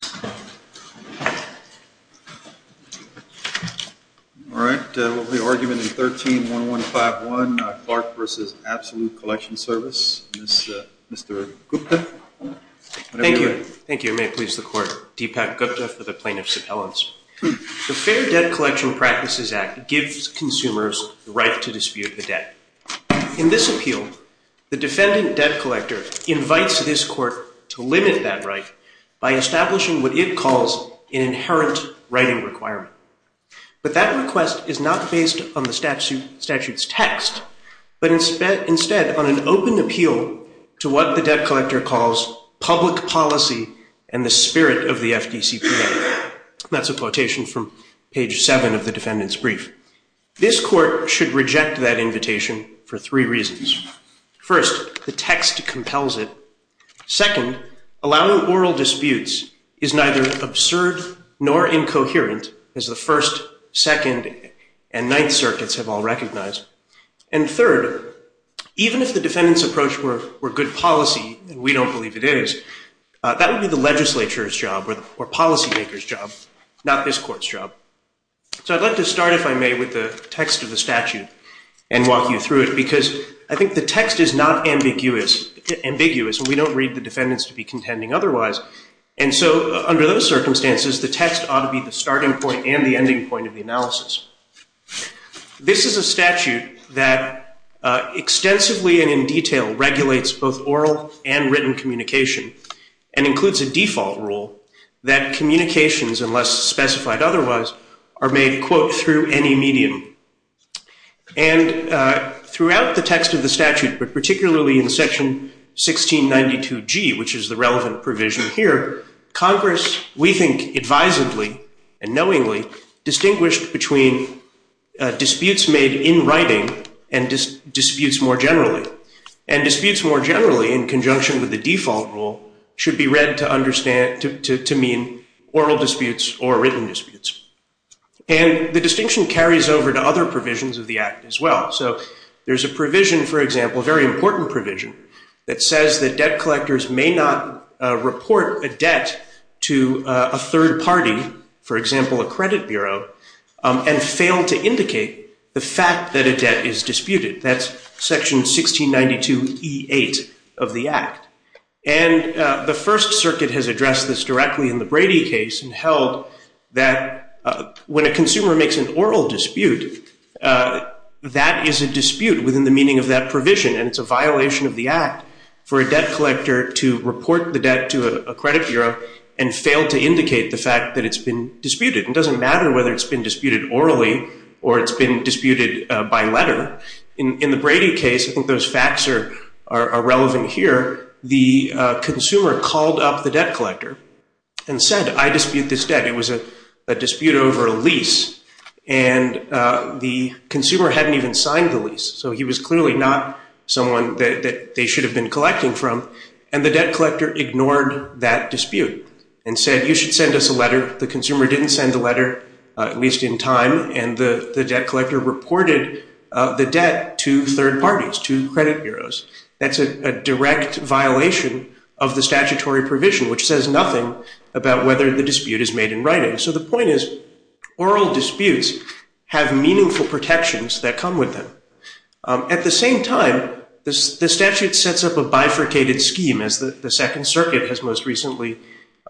The Fair Debt Collection Practices Act gives consumers the right to dispute the debt. In this appeal, the defendant debt collector invites this court to limit that right by establishing a fair debt collection practice. what it calls an inherent writing requirement. But that request is not based on the statute's text, but instead on an open appeal to what the debt collector calls public policy and the spirit of the FDCPA. That's a quotation from page 7 of the defendant's brief. This court should reject that invitation for three reasons. First, the text compels it. Second, allowing oral disputes is neither absurd nor incoherent, as the First, Second, and Ninth Circuits have all recognized. And third, even if the defendant's approach were good policy, and we don't believe it is, that would be the legislature's job or policymaker's job, not this court's job. So I'd like to start, if I may, with the text of the statute and walk you through it, because I think the text is not ambiguous, and we don't read the defendants to be contending otherwise. And so under those circumstances, the text ought to be the starting point and the ending point of the analysis. This is a statute that extensively and in detail regulates both oral and written communication and includes a default rule that communications, unless specified otherwise, are made, quote, through any medium. And throughout the text of the statute, but particularly in Section 1692G, which is the relevant provision here, Congress, we think advisedly and knowingly, distinguished between disputes made in writing and disputes more generally. And disputes more generally, in conjunction with the default rule, should be read to mean oral disputes or written disputes. And the distinction carries over to other provisions of the Act as well. So there's a provision, for example, a very important provision, that says that debt collectors may not report a debt to a third party, for example, a credit bureau, and fail to indicate the fact that a debt is disputed. That's Section 1692E8 of the Act. And the First Circuit has addressed this directly in the Brady case and held that when a consumer makes an oral dispute, that is a dispute within the meaning of that provision. And it's a violation of the Act for a debt collector to report the debt to a credit bureau and fail to indicate the fact that it's been disputed. It doesn't matter whether it's been disputed orally or it's been disputed by letter. In the Brady case, I think those facts are relevant here, the consumer called up the debt collector and said, I dispute this debt. It was a dispute over a lease. And the consumer hadn't even signed the lease. So he was clearly not someone that they should have been collecting from. And the debt collector ignored that dispute and said, you should send us a letter. The consumer didn't send a letter, at least in time. And the debt collector reported the debt to third parties, to credit bureaus. That's a direct violation of the statutory provision, which says nothing about whether the dispute is made in writing. So the point is, oral disputes have meaningful protections that come with them. At the same time, the statute sets up a bifurcated scheme, as the Second Circuit has most recently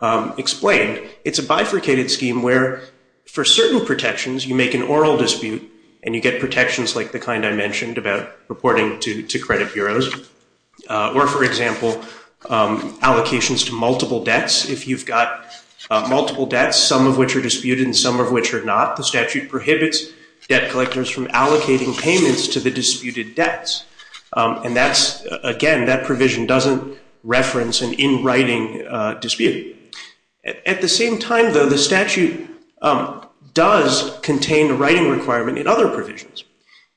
explained. It's a bifurcated scheme where, for certain protections, you make an oral dispute, and you get protections like the kind I mentioned about reporting to credit bureaus, or, for example, allocations to multiple debts. If you've got multiple debts, some of which are disputed and some of which are not, the statute prohibits debt collectors from allocating payments to the disputed debts. And again, that provision doesn't reference an in-writing dispute. At the same time, though, the statute does contain a writing requirement in other provisions.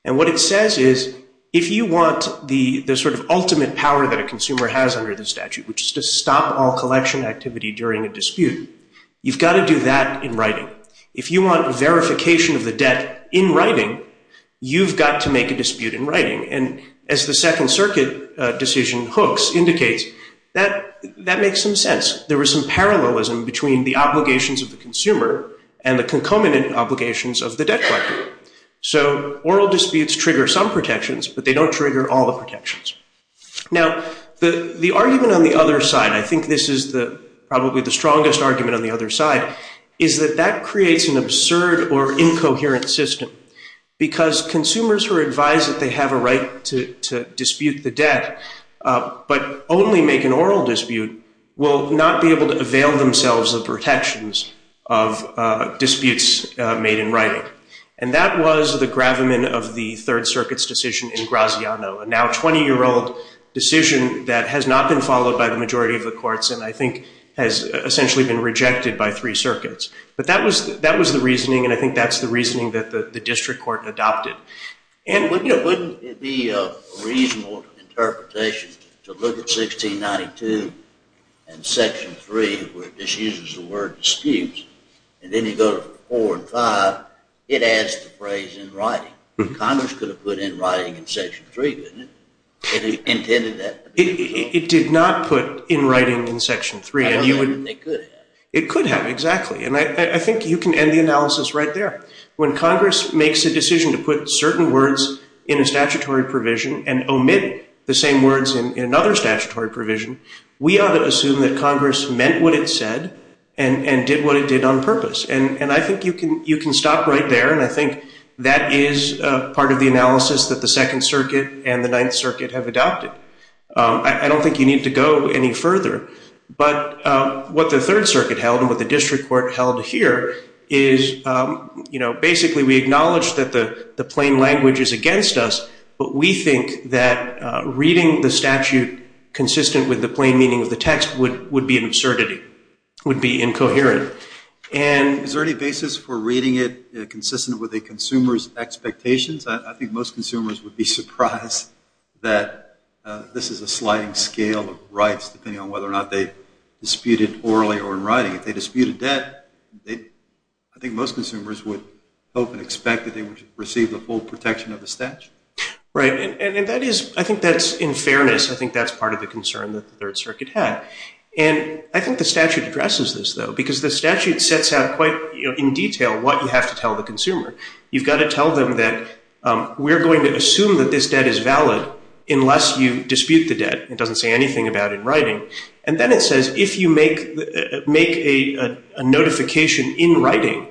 And what it says is, if you want the sort of ultimate power that a consumer has under the statute, which is to stop all collection activity during a dispute, you've got to do that in writing. If you want verification of the debt in writing, you've got to make a dispute in writing. And as the Second Circuit decision hooks indicates, that makes some sense. There was some parallelism between the obligations of the consumer and the concomitant obligations of the debt collector. So oral disputes trigger some protections, but they don't trigger all the protections. Now, the argument on the other side, I think this is probably the strongest argument on the other side, is that that creates an absurd or incoherent system, because consumers who are advised that they have a right to dispute the debt, but only make an oral dispute, will not be able to avail themselves of protections of disputes made in writing. And that was the gravamen of the Third Circuit's decision in Graziano, a now 20-year-old decision that has not been followed by the majority of the courts and I think has essentially been rejected by three circuits. But that was the reasoning, and I think that's the reasoning that the district court adopted. And wouldn't it be a reasonable interpretation to look at 1692 and Section 3, where it just uses the word dispute, and then you go to 4 and 5, it adds the phrase in writing. Congress could have put in writing in Section 3, couldn't it? It did not put in writing in Section 3. It could have, exactly. And I think you can end the analysis right there. When Congress makes a decision to put certain words in a statutory provision and omit the same words in another statutory provision, we ought to assume that Congress meant what it said and did what it did on purpose. And I think you can stop right there, and I think that is part of the analysis that the Second Circuit and the Ninth Circuit have adopted. I don't think you need to go any further. But what the Third Circuit held and what the district court held here is, basically we acknowledge that the plain language is against us, but we think that reading the statute consistent with the plain meaning of the text would be an absurdity, would be incoherent. Is there any basis for reading it consistent with a consumer's expectations? I think most consumers would be surprised that this is a sliding scale of rights depending on whether or not they disputed orally or in writing. If they disputed that, I think most consumers would hope and expect that they would receive the full protection of the statute. Right, and I think that's in fairness. I think that's part of the concern that the Third Circuit had. And I think the statute addresses this, though, because the statute sets out quite in detail what you have to tell the consumer. You've got to tell them that we're going to assume that this debt is valid unless you dispute the debt. It doesn't say anything about it in writing. And then it says if you make a notification in writing,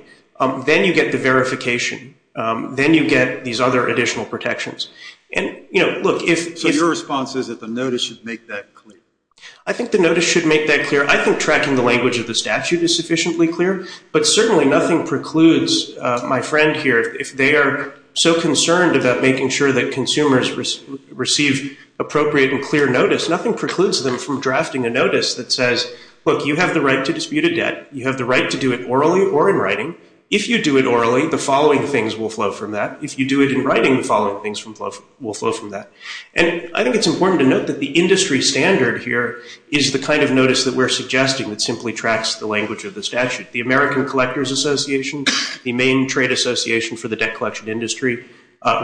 then you get the verification. Then you get these other additional protections. So your response is that the notice should make that clear? I think the notice should make that clear. I think tracking the language of the statute is sufficiently clear. But certainly nothing precludes my friend here, if they are so concerned about making sure that consumers receive appropriate and clear notice, nothing precludes them from drafting a notice that says, look, you have the right to dispute a debt. You have the right to do it orally or in writing. If you do it orally, the following things will flow from that. If you do it in writing, the following things will flow from that. And I think it's important to note that the industry standard here is the kind of notice that we're suggesting that simply tracks the language of the statute. The American Collectors Association, the main trade association for the debt collection industry,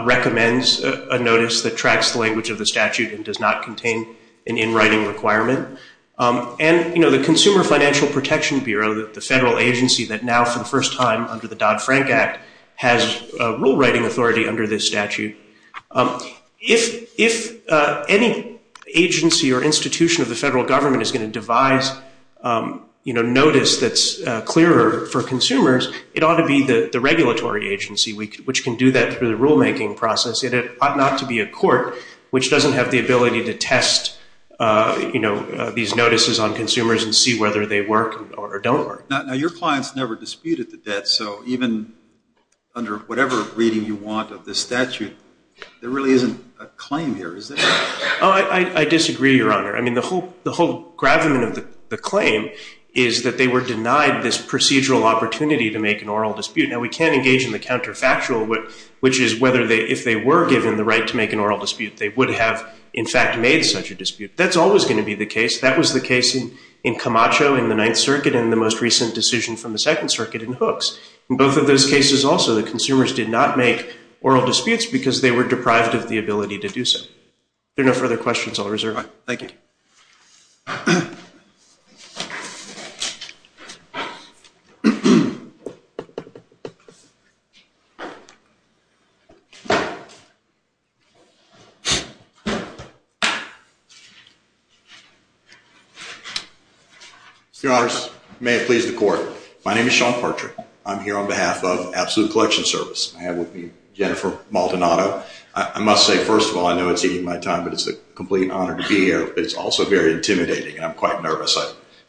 recommends a notice that tracks the language of the statute and does not contain an in writing requirement. And, you know, the Consumer Financial Protection Bureau, the federal agency that now, for the first time under the Dodd-Frank Act, has rule writing authority under this statute. If any agency or institution of the federal government is going to devise, you know, notice that's clearer for consumers, it ought to be the regulatory agency, which can do that through the rule making process. It ought not to be a court, which doesn't have the ability to test, you know, these notices on consumers and see whether they work or don't work. Now, your clients never disputed the debt, so even under whatever reading you want of the statute, there really isn't a claim here, is there? I disagree, Your Honor. I mean, the whole gravamen of the claim is that they were denied this procedural opportunity to make an oral dispute. Now, we can engage in the counterfactual, which is whether they, if they were given the right to make an oral dispute, they would have, in fact, made such a dispute. That's always going to be the case. That was the case in Camacho in the Ninth Circuit and the most recent decision from the Second Circuit in Hooks. In both of those cases also, the consumers did not make oral disputes because they were deprived of the ability to do so. If there are no further questions, I'll reserve it. Thank you. Your Honors, may it please the Court. My name is Sean Partridge. I'm here on behalf of Absolute Collection Service. I have with me Jennifer Maldonado. I must say, first of all, I know it's eating my time, but it's a complete honor to be here. It's also very intimidating, and I'm quite nervous.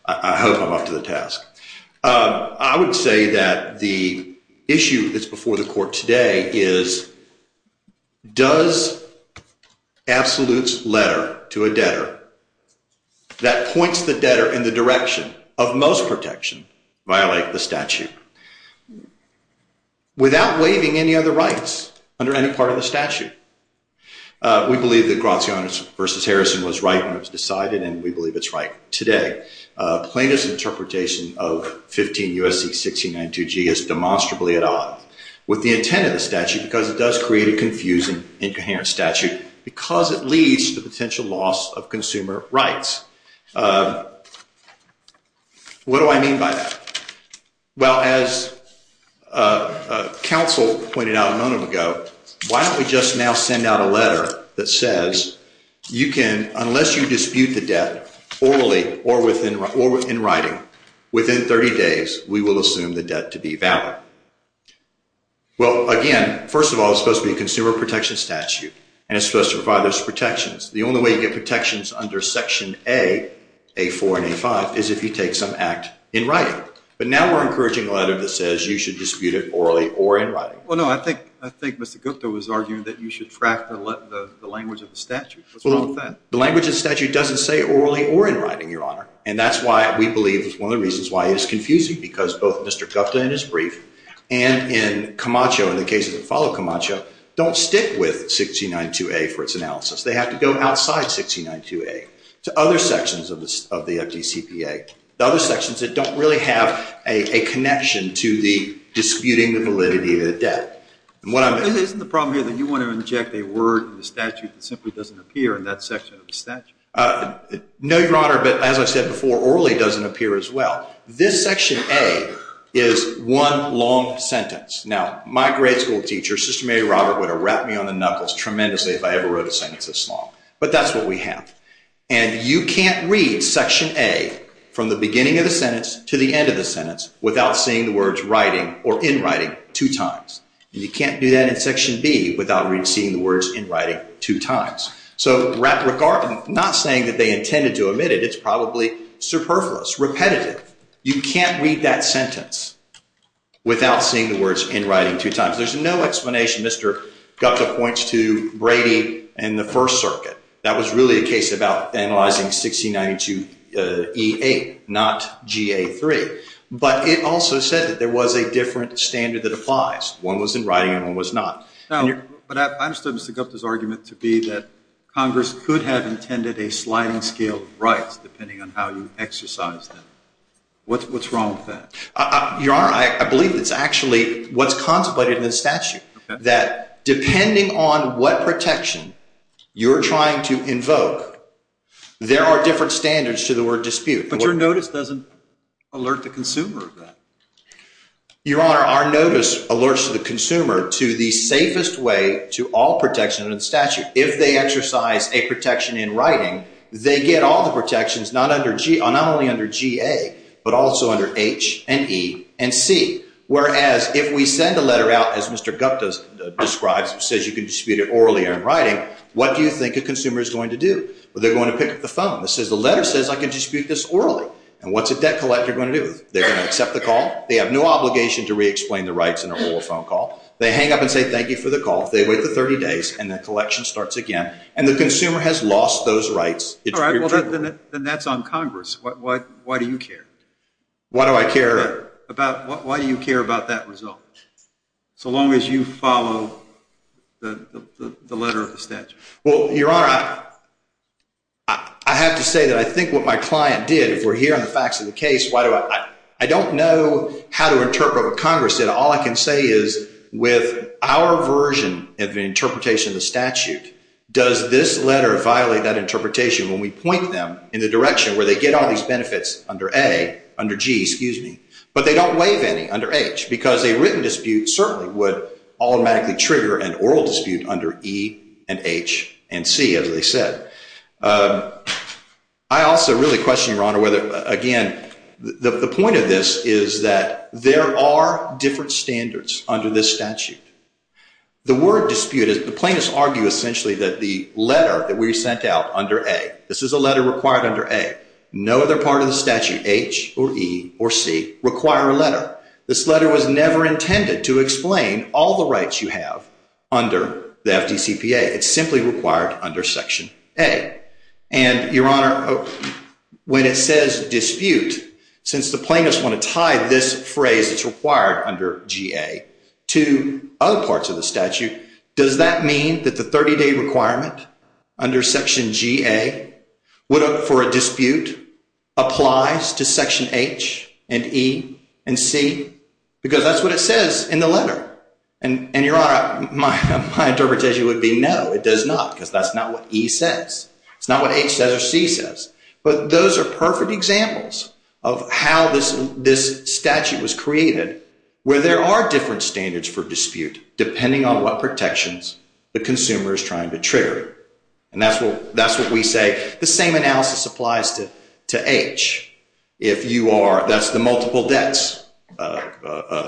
I hope I'm up to the task. I would say that the issue that's before the Court today is, does Absolute's letter to a debtor that points the debtor in the direction of most protection violate the statute, without waiving any of the rights under any part of the statute? We believe that Graziano v. Harrison was right when it was decided, and we believe it's right today. Plaintiff's interpretation of 15 U.S.C. 1692G is demonstrably at odd with the intent of the statute because it does create a confusing, incoherent statute because it leads to potential loss of consumer rights. What do I mean by that? Well, as counsel pointed out a moment ago, why don't we just now send out a letter that says, unless you dispute the debt orally or in writing, within 30 days, we will assume the debt to be valid. Well, again, first of all, it's supposed to be a consumer protection statute, and it's supposed to provide those protections. The only way you get protections under Section A, A4 and A5, is if you take some act in writing. But now we're encouraging a letter that says you should dispute it orally or in writing. Well, no, I think Mr. Gupta was arguing that you should track the language of the statute. What's wrong with that? The language of the statute doesn't say orally or in writing, Your Honor, and that's why we believe it's one of the reasons why it is confusing because both Mr. Gupta in his brief and in Camacho, in the cases that follow Camacho, don't stick with 1692A for its analysis. They have to go outside 1692A to other sections of the FDCPA, the other sections that don't really have a connection to the disputing the validity of the debt. Isn't the problem here that you want to inject a word in the statute that simply doesn't appear in that section of the statute? No, Your Honor, but as I said before, orally doesn't appear as well. This Section A is one long sentence. Now, my grade school teacher, Sister Mary Robert, would have rapped me on the knuckles tremendously if I ever wrote a sentence this long, but that's what we have. And you can't read Section A from the beginning of the sentence to the end of the sentence without seeing the words writing or in writing two times. And you can't do that in Section B without seeing the words in writing two times. So not saying that they intended to omit it, it's probably superfluous, repetitive. You can't read that sentence without seeing the words in writing two times. There's no explanation. Mr. Gupta points to Brady and the First Circuit. That was really a case about analyzing 1692E8, not GA3. But it also said that there was a different standard that applies. One was in writing and one was not. But I understood Mr. Gupta's argument to be that Congress could have intended a sliding scale of rights depending on how you exercise them. What's wrong with that? Your Honor, I believe it's actually what's contemplated in the statute, that depending on what protection you're trying to invoke, there are different standards to the word dispute. But your notice doesn't alert the consumer of that. Your Honor, our notice alerts the consumer to the safest way to all protection in the statute. If they exercise a protection in writing, they get all the protections not only under GA but also under H and E and C. Whereas if we send a letter out, as Mr. Gupta describes, says you can dispute it orally in writing, what do you think a consumer is going to do? Well, they're going to pick up the phone. The letter says I can dispute this orally. And what's a debt collector going to do? They're going to accept the call. They have no obligation to re-explain the rights in a whole phone call. They hang up and say thank you for the call. They wait for 30 days and the collection starts again. And the consumer has lost those rights. All right. Well, then that's on Congress. Why do you care? Why do I care? Why do you care about that result so long as you follow the letter of the statute? Well, Your Honor, I have to say that I think what my client did, if we're hearing the facts of the case, I don't know how to interpret what Congress did. But they don't waive any under H because a written dispute certainly would automatically trigger an oral dispute under E and H and C, as they said. I also really question, Your Honor, whether, again, the point of this is that there are different standards under this statute. The word dispute, the plaintiffs argue essentially that the letter that we sent out under A, this is a letter required under A. No other part of the statute, H or E or C, require a letter. This letter was never intended to explain all the rights you have under the FDCPA. It's simply required under Section A. And, Your Honor, when it says dispute, since the plaintiffs want to tie this phrase that's required under G.A. to other parts of the statute, does that mean that the 30-day requirement under Section G.A. for a dispute applies to Section H and E and C? Because that's what it says in the letter. And, Your Honor, my interpretation would be no, it does not because that's not what E says. It's not what H says or C says. But those are perfect examples of how this statute was created where there are different standards for dispute depending on what protections the consumer is trying to trigger. And that's what we say. The same analysis applies to H. That's the multiple debts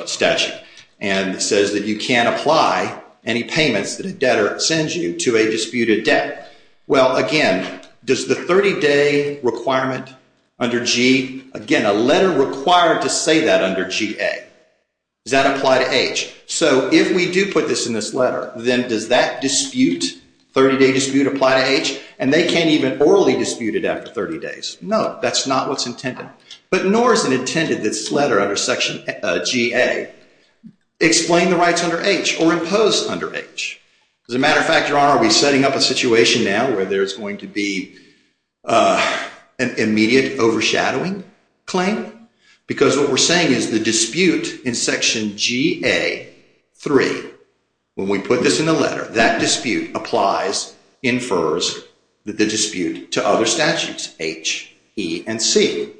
statute. And it says that you can't apply any payments that a debtor sends you to a disputed debt. Well, again, does the 30-day requirement under G, again, a letter required to say that under G.A., does that apply to H? So if we do put this in this letter, then does that dispute, 30-day dispute, apply to H? And they can't even orally dispute it after 30 days. No, that's not what's intended. But nor is it intended that this letter under Section G.A. explain the rights under H or impose under H. As a matter of fact, Your Honor, we're setting up a situation now where there's going to be an immediate overshadowing claim. Because what we're saying is the dispute in Section G.A. 3, when we put this in the letter, that dispute applies, infers the dispute to other statutes, H, E, and C.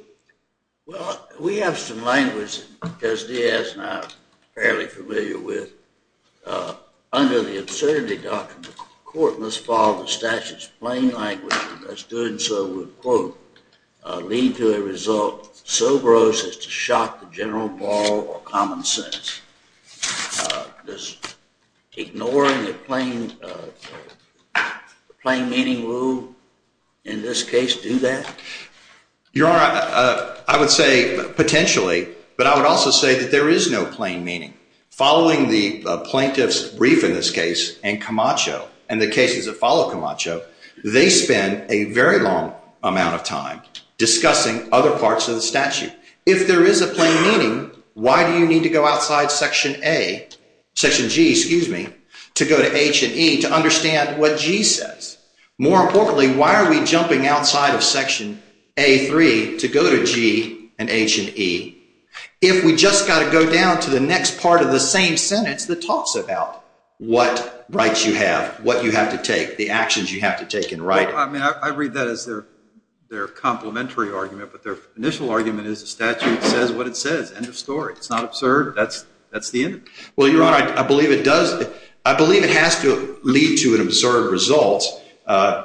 Well, we have some language that Judge Diaz and I are fairly familiar with. Under the Absurdity Doctrine, the court must follow the statute's plain language, and thus doing so would, quote, lead to a result so gross as to shock the general moral or common sense. Does ignoring the plain meaning rule in this case do that? Your Honor, I would say potentially, but I would also say that there is no plain meaning. Following the plaintiff's brief in this case and Camacho and the cases that follow Camacho, they spend a very long amount of time discussing other parts of the statute. If there is a plain meaning, why do you need to go outside Section A, Section G, excuse me, to go to H and E to understand what G says? More importantly, why are we jumping outside of Section A, 3 to go to G and H and E, if we just got to go down to the next part of the same sentence that talks about what rights you have, what you have to take, the actions you have to take in writing? I mean, I read that as their complementary argument, but their initial argument is the statute says what it says. End of story. It's not absurd. That's the end of it. Well, Your Honor, I believe it does. I believe it has to lead to an absurd result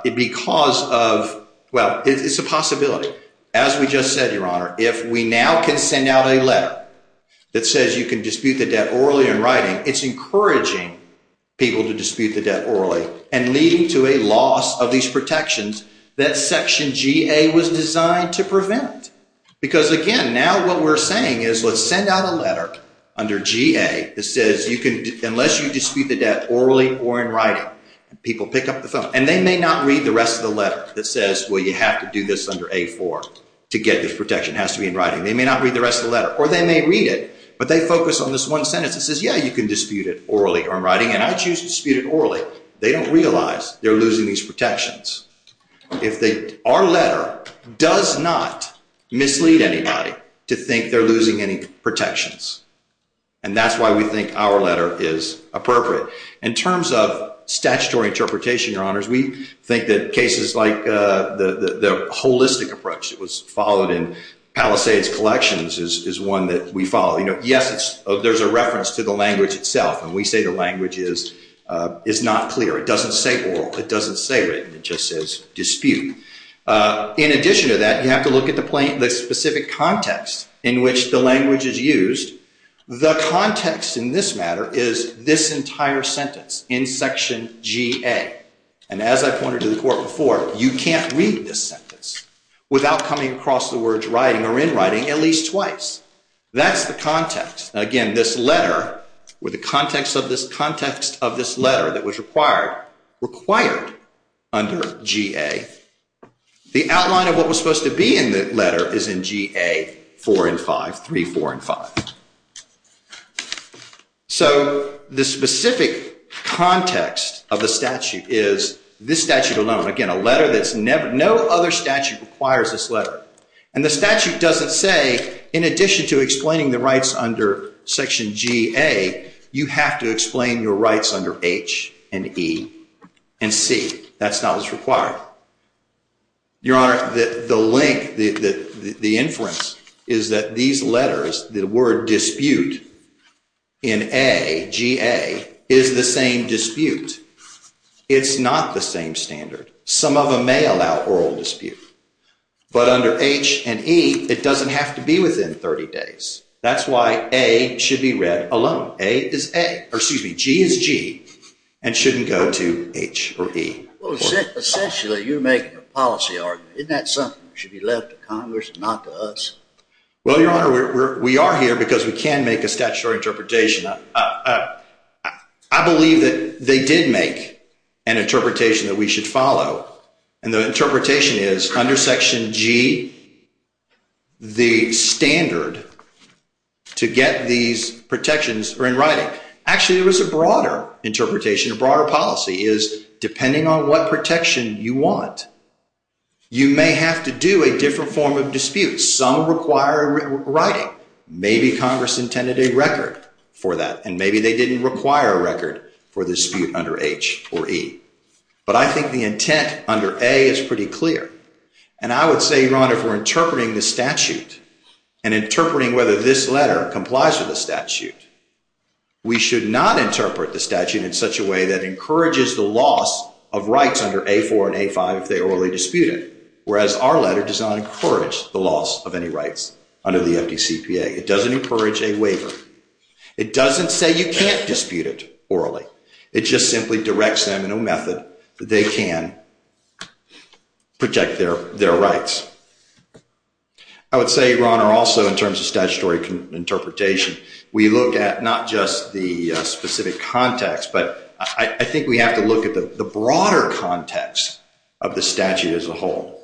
because of, well, it's a possibility. As we just said, Your Honor, if we now can send out a letter that says you can dispute the debt orally in writing, it's encouraging people to dispute the debt orally and leading to a loss of these protections that Section G.A. was designed to prevent. Because, again, now what we're saying is let's send out a letter under G.A. that says unless you dispute the debt orally or in writing, people pick up the phone. And they may not read the rest of the letter that says, well, you have to do this under A, 4 to get this protection. It has to be in writing. They may not read the rest of the letter, or they may read it, but they focus on this one sentence that says, yeah, you can dispute it orally or in writing. And I choose to dispute it orally. They don't realize they're losing these protections. Our letter does not mislead anybody to think they're losing any protections. And that's why we think our letter is appropriate. In terms of statutory interpretation, Your Honors, we think that cases like the holistic approach that was followed in Palisades Collections is one that we follow. Yes, there's a reference to the language itself, and we say the language is not clear. It doesn't say oral. It doesn't say written. It just says dispute. In addition to that, you have to look at the specific context in which the language is used. The context in this matter is this entire sentence in Section G.A. And as I pointed to the Court before, you can't read this sentence without coming across the words writing or in writing at least twice. That's the context. Again, this letter or the context of this letter that was required under G.A. The outline of what was supposed to be in the letter is in G.A. 4 and 5, 3, 4, and 5. So the specific context of the statute is this statute alone. Again, a letter that's never—no other statute requires this letter. And the statute doesn't say in addition to explaining the rights under Section G.A., you have to explain your rights under H and E and C. That's not what's required. Your Honor, the link, the inference is that these letters, the word dispute in A, G.A., is the same dispute. It's not the same standard. Some of them may allow oral dispute. But under H and E, it doesn't have to be within 30 days. That's why A should be read alone. G is G and shouldn't go to H or E. Essentially, you're making a policy argument. Isn't that something that should be left to Congress and not to us? Well, Your Honor, we are here because we can make a statutory interpretation. I believe that they did make an interpretation that we should follow. And the interpretation is under Section G, the standard to get these protections are in writing. Actually, there was a broader interpretation, a broader policy, is depending on what protection you want, you may have to do a different form of dispute. Some require writing. Maybe Congress intended a record for that, and maybe they didn't require a record for the dispute under H or E. But I think the intent under A is pretty clear. And I would say, Your Honor, if we're interpreting the statute and interpreting whether this letter complies with the statute, we should not interpret the statute in such a way that encourages the loss of rights under A4 and A5 if they orally dispute it, whereas our letter does not encourage the loss of any rights under the FDCPA. It doesn't encourage a waiver. It doesn't say you can't dispute it orally. It just simply directs them in a method that they can protect their rights. I would say, Your Honor, also in terms of statutory interpretation, we look at not just the specific context, but I think we have to look at the broader context of the statute as a whole.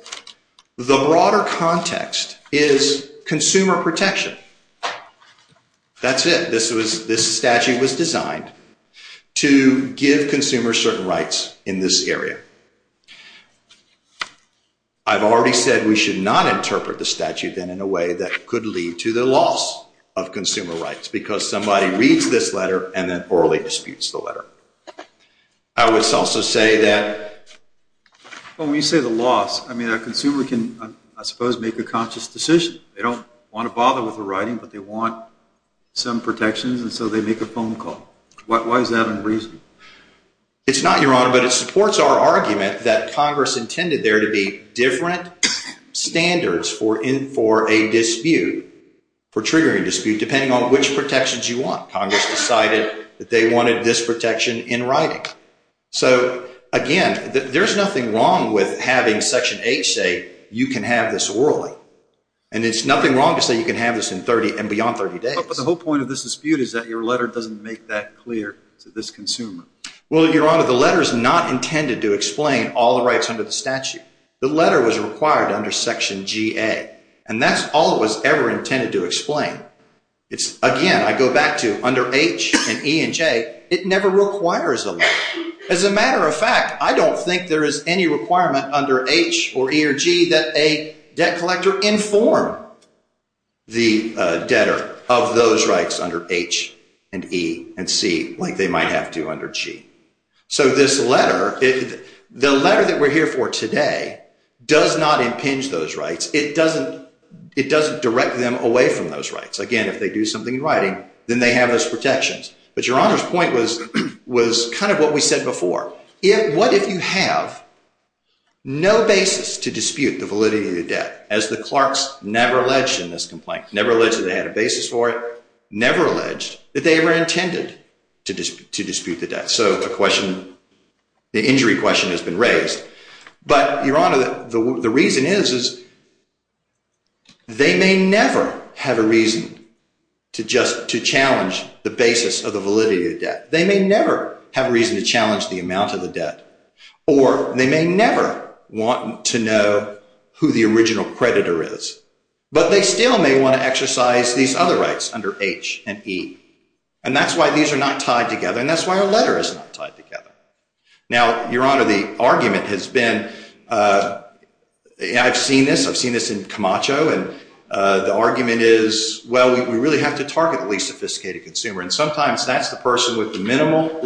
The broader context is consumer protection. That's it. This statute was designed to give consumers certain rights in this area. I've already said we should not interpret the statute then in a way that could lead to the loss of consumer rights because somebody reads this letter and then orally disputes the letter. I would also say that when we say the loss, I mean, a consumer can, I suppose, make a conscious decision. They don't want to bother with the writing, but they want some protections, and so they make a phone call. Why is that unreasonable? It's not, Your Honor, but it supports our argument that Congress intended there to be different standards for a dispute, for triggering a dispute, depending on which protections you want. Congress decided that they wanted this protection in writing. So, again, there's nothing wrong with having Section 8 say you can have this orally, and it's nothing wrong to say you can have this in 30 and beyond 30 days. But the whole point of this dispute is that your letter doesn't make that clear to this consumer. Well, Your Honor, the letter is not intended to explain all the rights under the statute. The letter was required under Section GA, and that's all it was ever intended to explain. Again, I go back to under H and E and J, it never requires a letter. As a matter of fact, I don't think there is any requirement under H or E or G that a debt collector inform the debtor of those rights under H and E and C like they might have to under G. So this letter, the letter that we're here for today, does not impinge those rights. It doesn't direct them away from those rights. Again, if they do something in writing, then they have those protections. But Your Honor's point was kind of what we said before. What if you have no basis to dispute the validity of the debt, as the clerks never alleged in this complaint, never alleged that they had a basis for it, never alleged that they ever intended to dispute the debt? So the injury question has been raised. But Your Honor, the reason is they may never have a reason to challenge the basis of the validity of the debt. They may never have a reason to challenge the amount of the debt. Or they may never want to know who the original creditor is. But they still may want to exercise these other rights under H and E. And that's why these are not tied together, and that's why our letter is not tied together. Now, Your Honor, the argument has been – I've seen this. I've seen this in Camacho. And the argument is, well, we really have to target the least sophisticated consumer. And sometimes that's the person with the minimal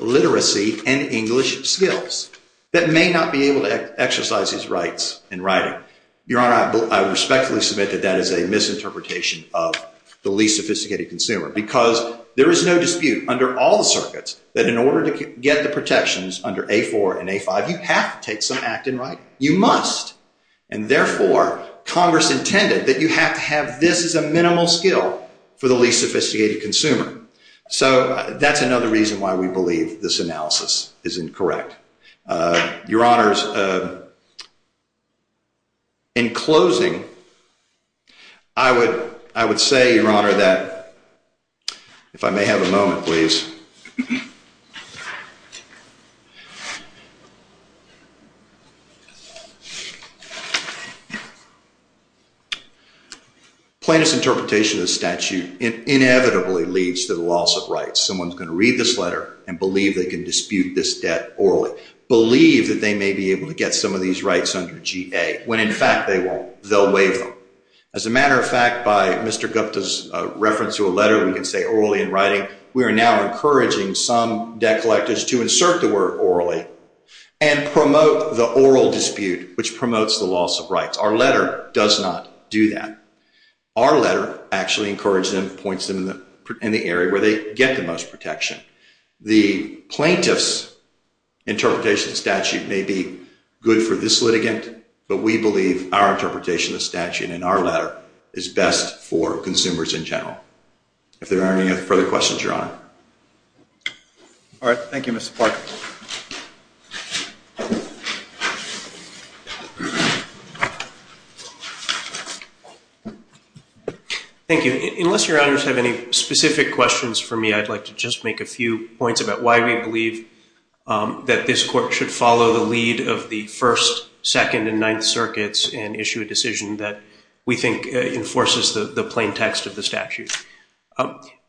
literacy and English skills that may not be able to exercise these rights in writing. Your Honor, I respectfully submit that that is a misinterpretation of the least sophisticated consumer, because there is no dispute under all the circuits that in order to get the protections under A4 and A5, you have to take some act in writing. You must. And therefore, Congress intended that you have to have this as a minimal skill for the least sophisticated consumer. So that's another reason why we believe this analysis is incorrect. Your Honors, in closing, I would say, Your Honor, that – if I may have a moment, please. Plaintiff's interpretation of the statute inevitably leads to the loss of rights. Someone's going to read this letter and believe they can dispute this debt orally, believe that they may be able to get some of these rights under G.A., when in fact they won't. They'll waive them. As a matter of fact, by Mr. Gupta's reference to a letter we can say orally in writing, we are now encouraging some debt collectors to insert the word orally and promote the oral dispute, which promotes the loss of rights. Our letter does not do that. Our letter actually encourages them, points them in the area where they get the most protection. The plaintiff's interpretation of the statute may be good for this litigant, but we believe our interpretation of the statute in our letter is best for consumers in general. If there aren't any further questions, Your Honor. All right. Thank you, Mr. Parker. Thank you. Unless Your Honors have any specific questions for me, I'd like to just make a few points about why we believe that this court should follow the lead of the First, Second, and Ninth Circuits and issue a decision that we think enforces the plain text of the statute.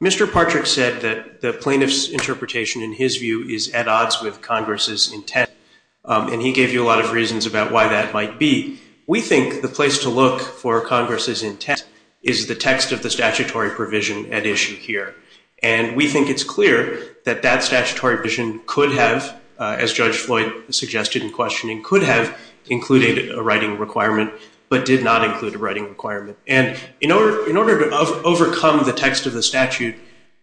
Mr. Partrick said that the plaintiff's interpretation, in his view, is at odds with Congress's intent, and he gave you a lot of reasons about why that might be. We think the place to look for Congress's intent is the text of the statutory provision at issue here. And we think it's clear that that statutory provision could have, as Judge Floyd suggested in questioning, could have included a writing requirement but did not include a writing requirement. And in order to overcome the text of the statute,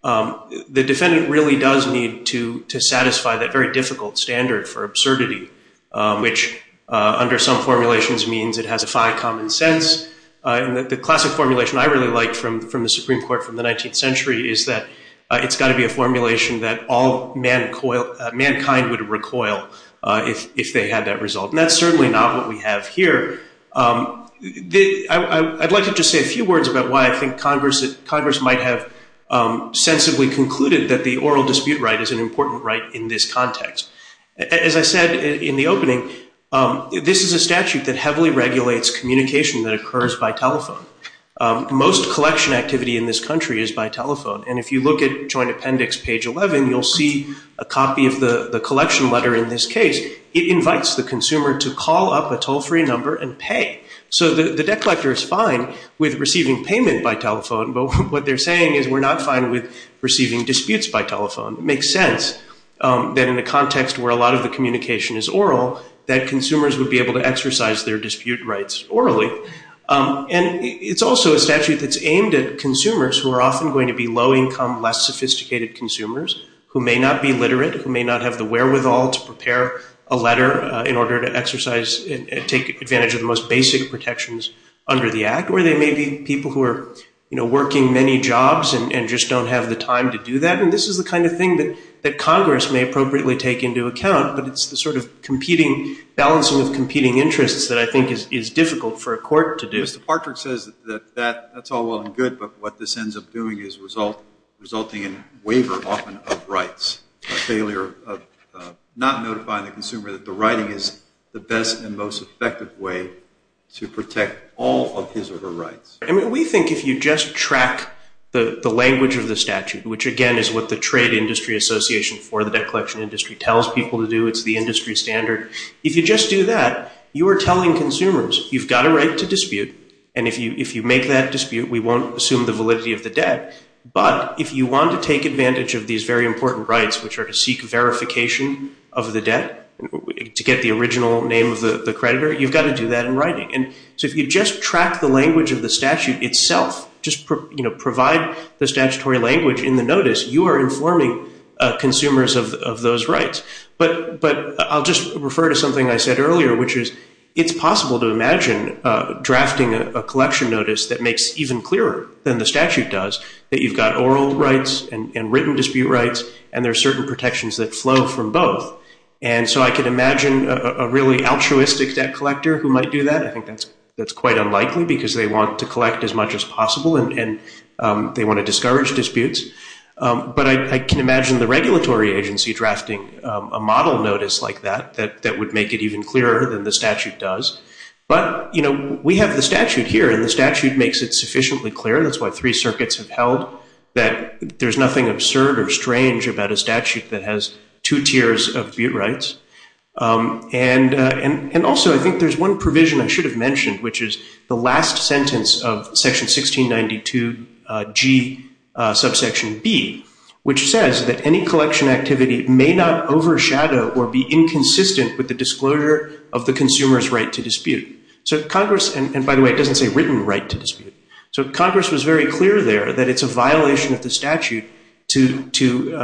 the defendant really does need to satisfy that very difficult standard for absurdity, which under some formulations means it has a fine common sense. And the classic formulation I really like from the Supreme Court from the 19th century is that it's got to be a formulation that all mankind would recoil if they had that result. And that's certainly not what we have here. I'd like to just say a few words about why I think Congress might have sensibly concluded that the oral dispute right is an important right in this context. As I said in the opening, this is a statute that heavily regulates communication that occurs by telephone. Most collection activity in this country is by telephone. And if you look at Joint Appendix page 11, you'll see a copy of the collection letter in this case. It invites the consumer to call up a toll-free number and pay. So the debt collector is fine with receiving payment by telephone, but what they're saying is we're not fine with receiving disputes by telephone. It makes sense that in a context where a lot of the communication is oral, that consumers would be able to exercise their dispute rights orally. And it's also a statute that's aimed at consumers who are often going to be low-income, less sophisticated consumers who may not be literate, who may not have the wherewithal to prepare a letter in order to exercise and take advantage of the most basic protections under the Act. Or they may be people who are working many jobs and just don't have the time to do that. And this is the kind of thing that Congress may appropriately take into account, but it's the sort of balancing of competing interests that I think is difficult for a court to do. Mr. Partrick says that that's all well and good, but what this ends up doing is resulting in waiver often of rights, a failure of not notifying the consumer that the writing is the best and most effective way to protect all of his or her rights. I mean, we think if you just track the language of the statute, which again is what the Trade Industry Association for the Debt Collection Industry tells people to do, it's the industry standard. If you just do that, you are telling consumers you've got a right to dispute. And if you make that dispute, we won't assume the validity of the debt. But if you want to take advantage of these very important rights, which are to seek verification of the debt, to get the original name of the creditor, you've got to do that in writing. And so if you just track the language of the statute itself, just provide the statutory language in the notice, you are informing consumers of those rights. But I'll just refer to something I said earlier, which is it's possible to imagine drafting a collection notice that makes even clearer than the statute does, that you've got oral rights and written dispute rights, and there are certain protections that flow from both. And so I could imagine a really altruistic debt collector who might do that. I think that's quite unlikely because they want to collect as much as possible and they want to discourage disputes. But I can imagine the regulatory agency drafting a model notice like that that would make it even clearer than the statute does. But we have the statute here, and the statute makes it sufficiently clear. That's why three circuits have held that there's nothing absurd or strange about a statute that has two tiers of dispute rights. And also, I think there's one provision I should have mentioned, which is the last sentence of section 1692G, subsection B, which says that any collection activity may not overshadow or be inconsistent with the disclosure of the consumer's right to dispute. So Congress, and by the way, it doesn't say written right to dispute. So Congress was very clear there that it's a violation of the statute to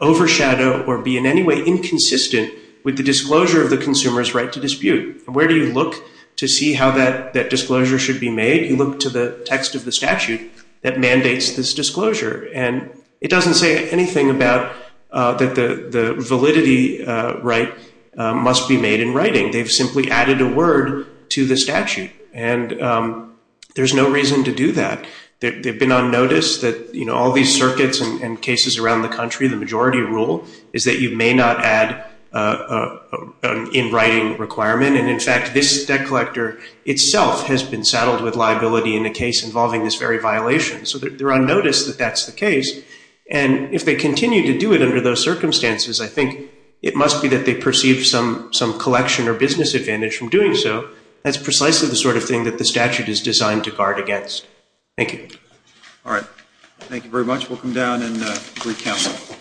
overshadow or be in any way inconsistent with the disclosure of the consumer's right to dispute. Where do you look to see how that disclosure should be made? You look to the text of the statute that mandates this disclosure. And it doesn't say anything about that the validity right must be made in writing. They've simply added a word to the statute. And there's no reason to do that. They've been on notice that all these circuits and cases around the country, the majority rule is that you may not add in writing requirement. And in fact, this debt collector itself has been saddled with liability in a case involving this very violation. So they're on notice that that's the case. And if they continue to do it under those circumstances, I think it must be that they perceive some collection or business advantage from doing so. That's precisely the sort of thing that the statute is designed to guard against. Thank you. All right. Thank you very much. We'll come down and recount.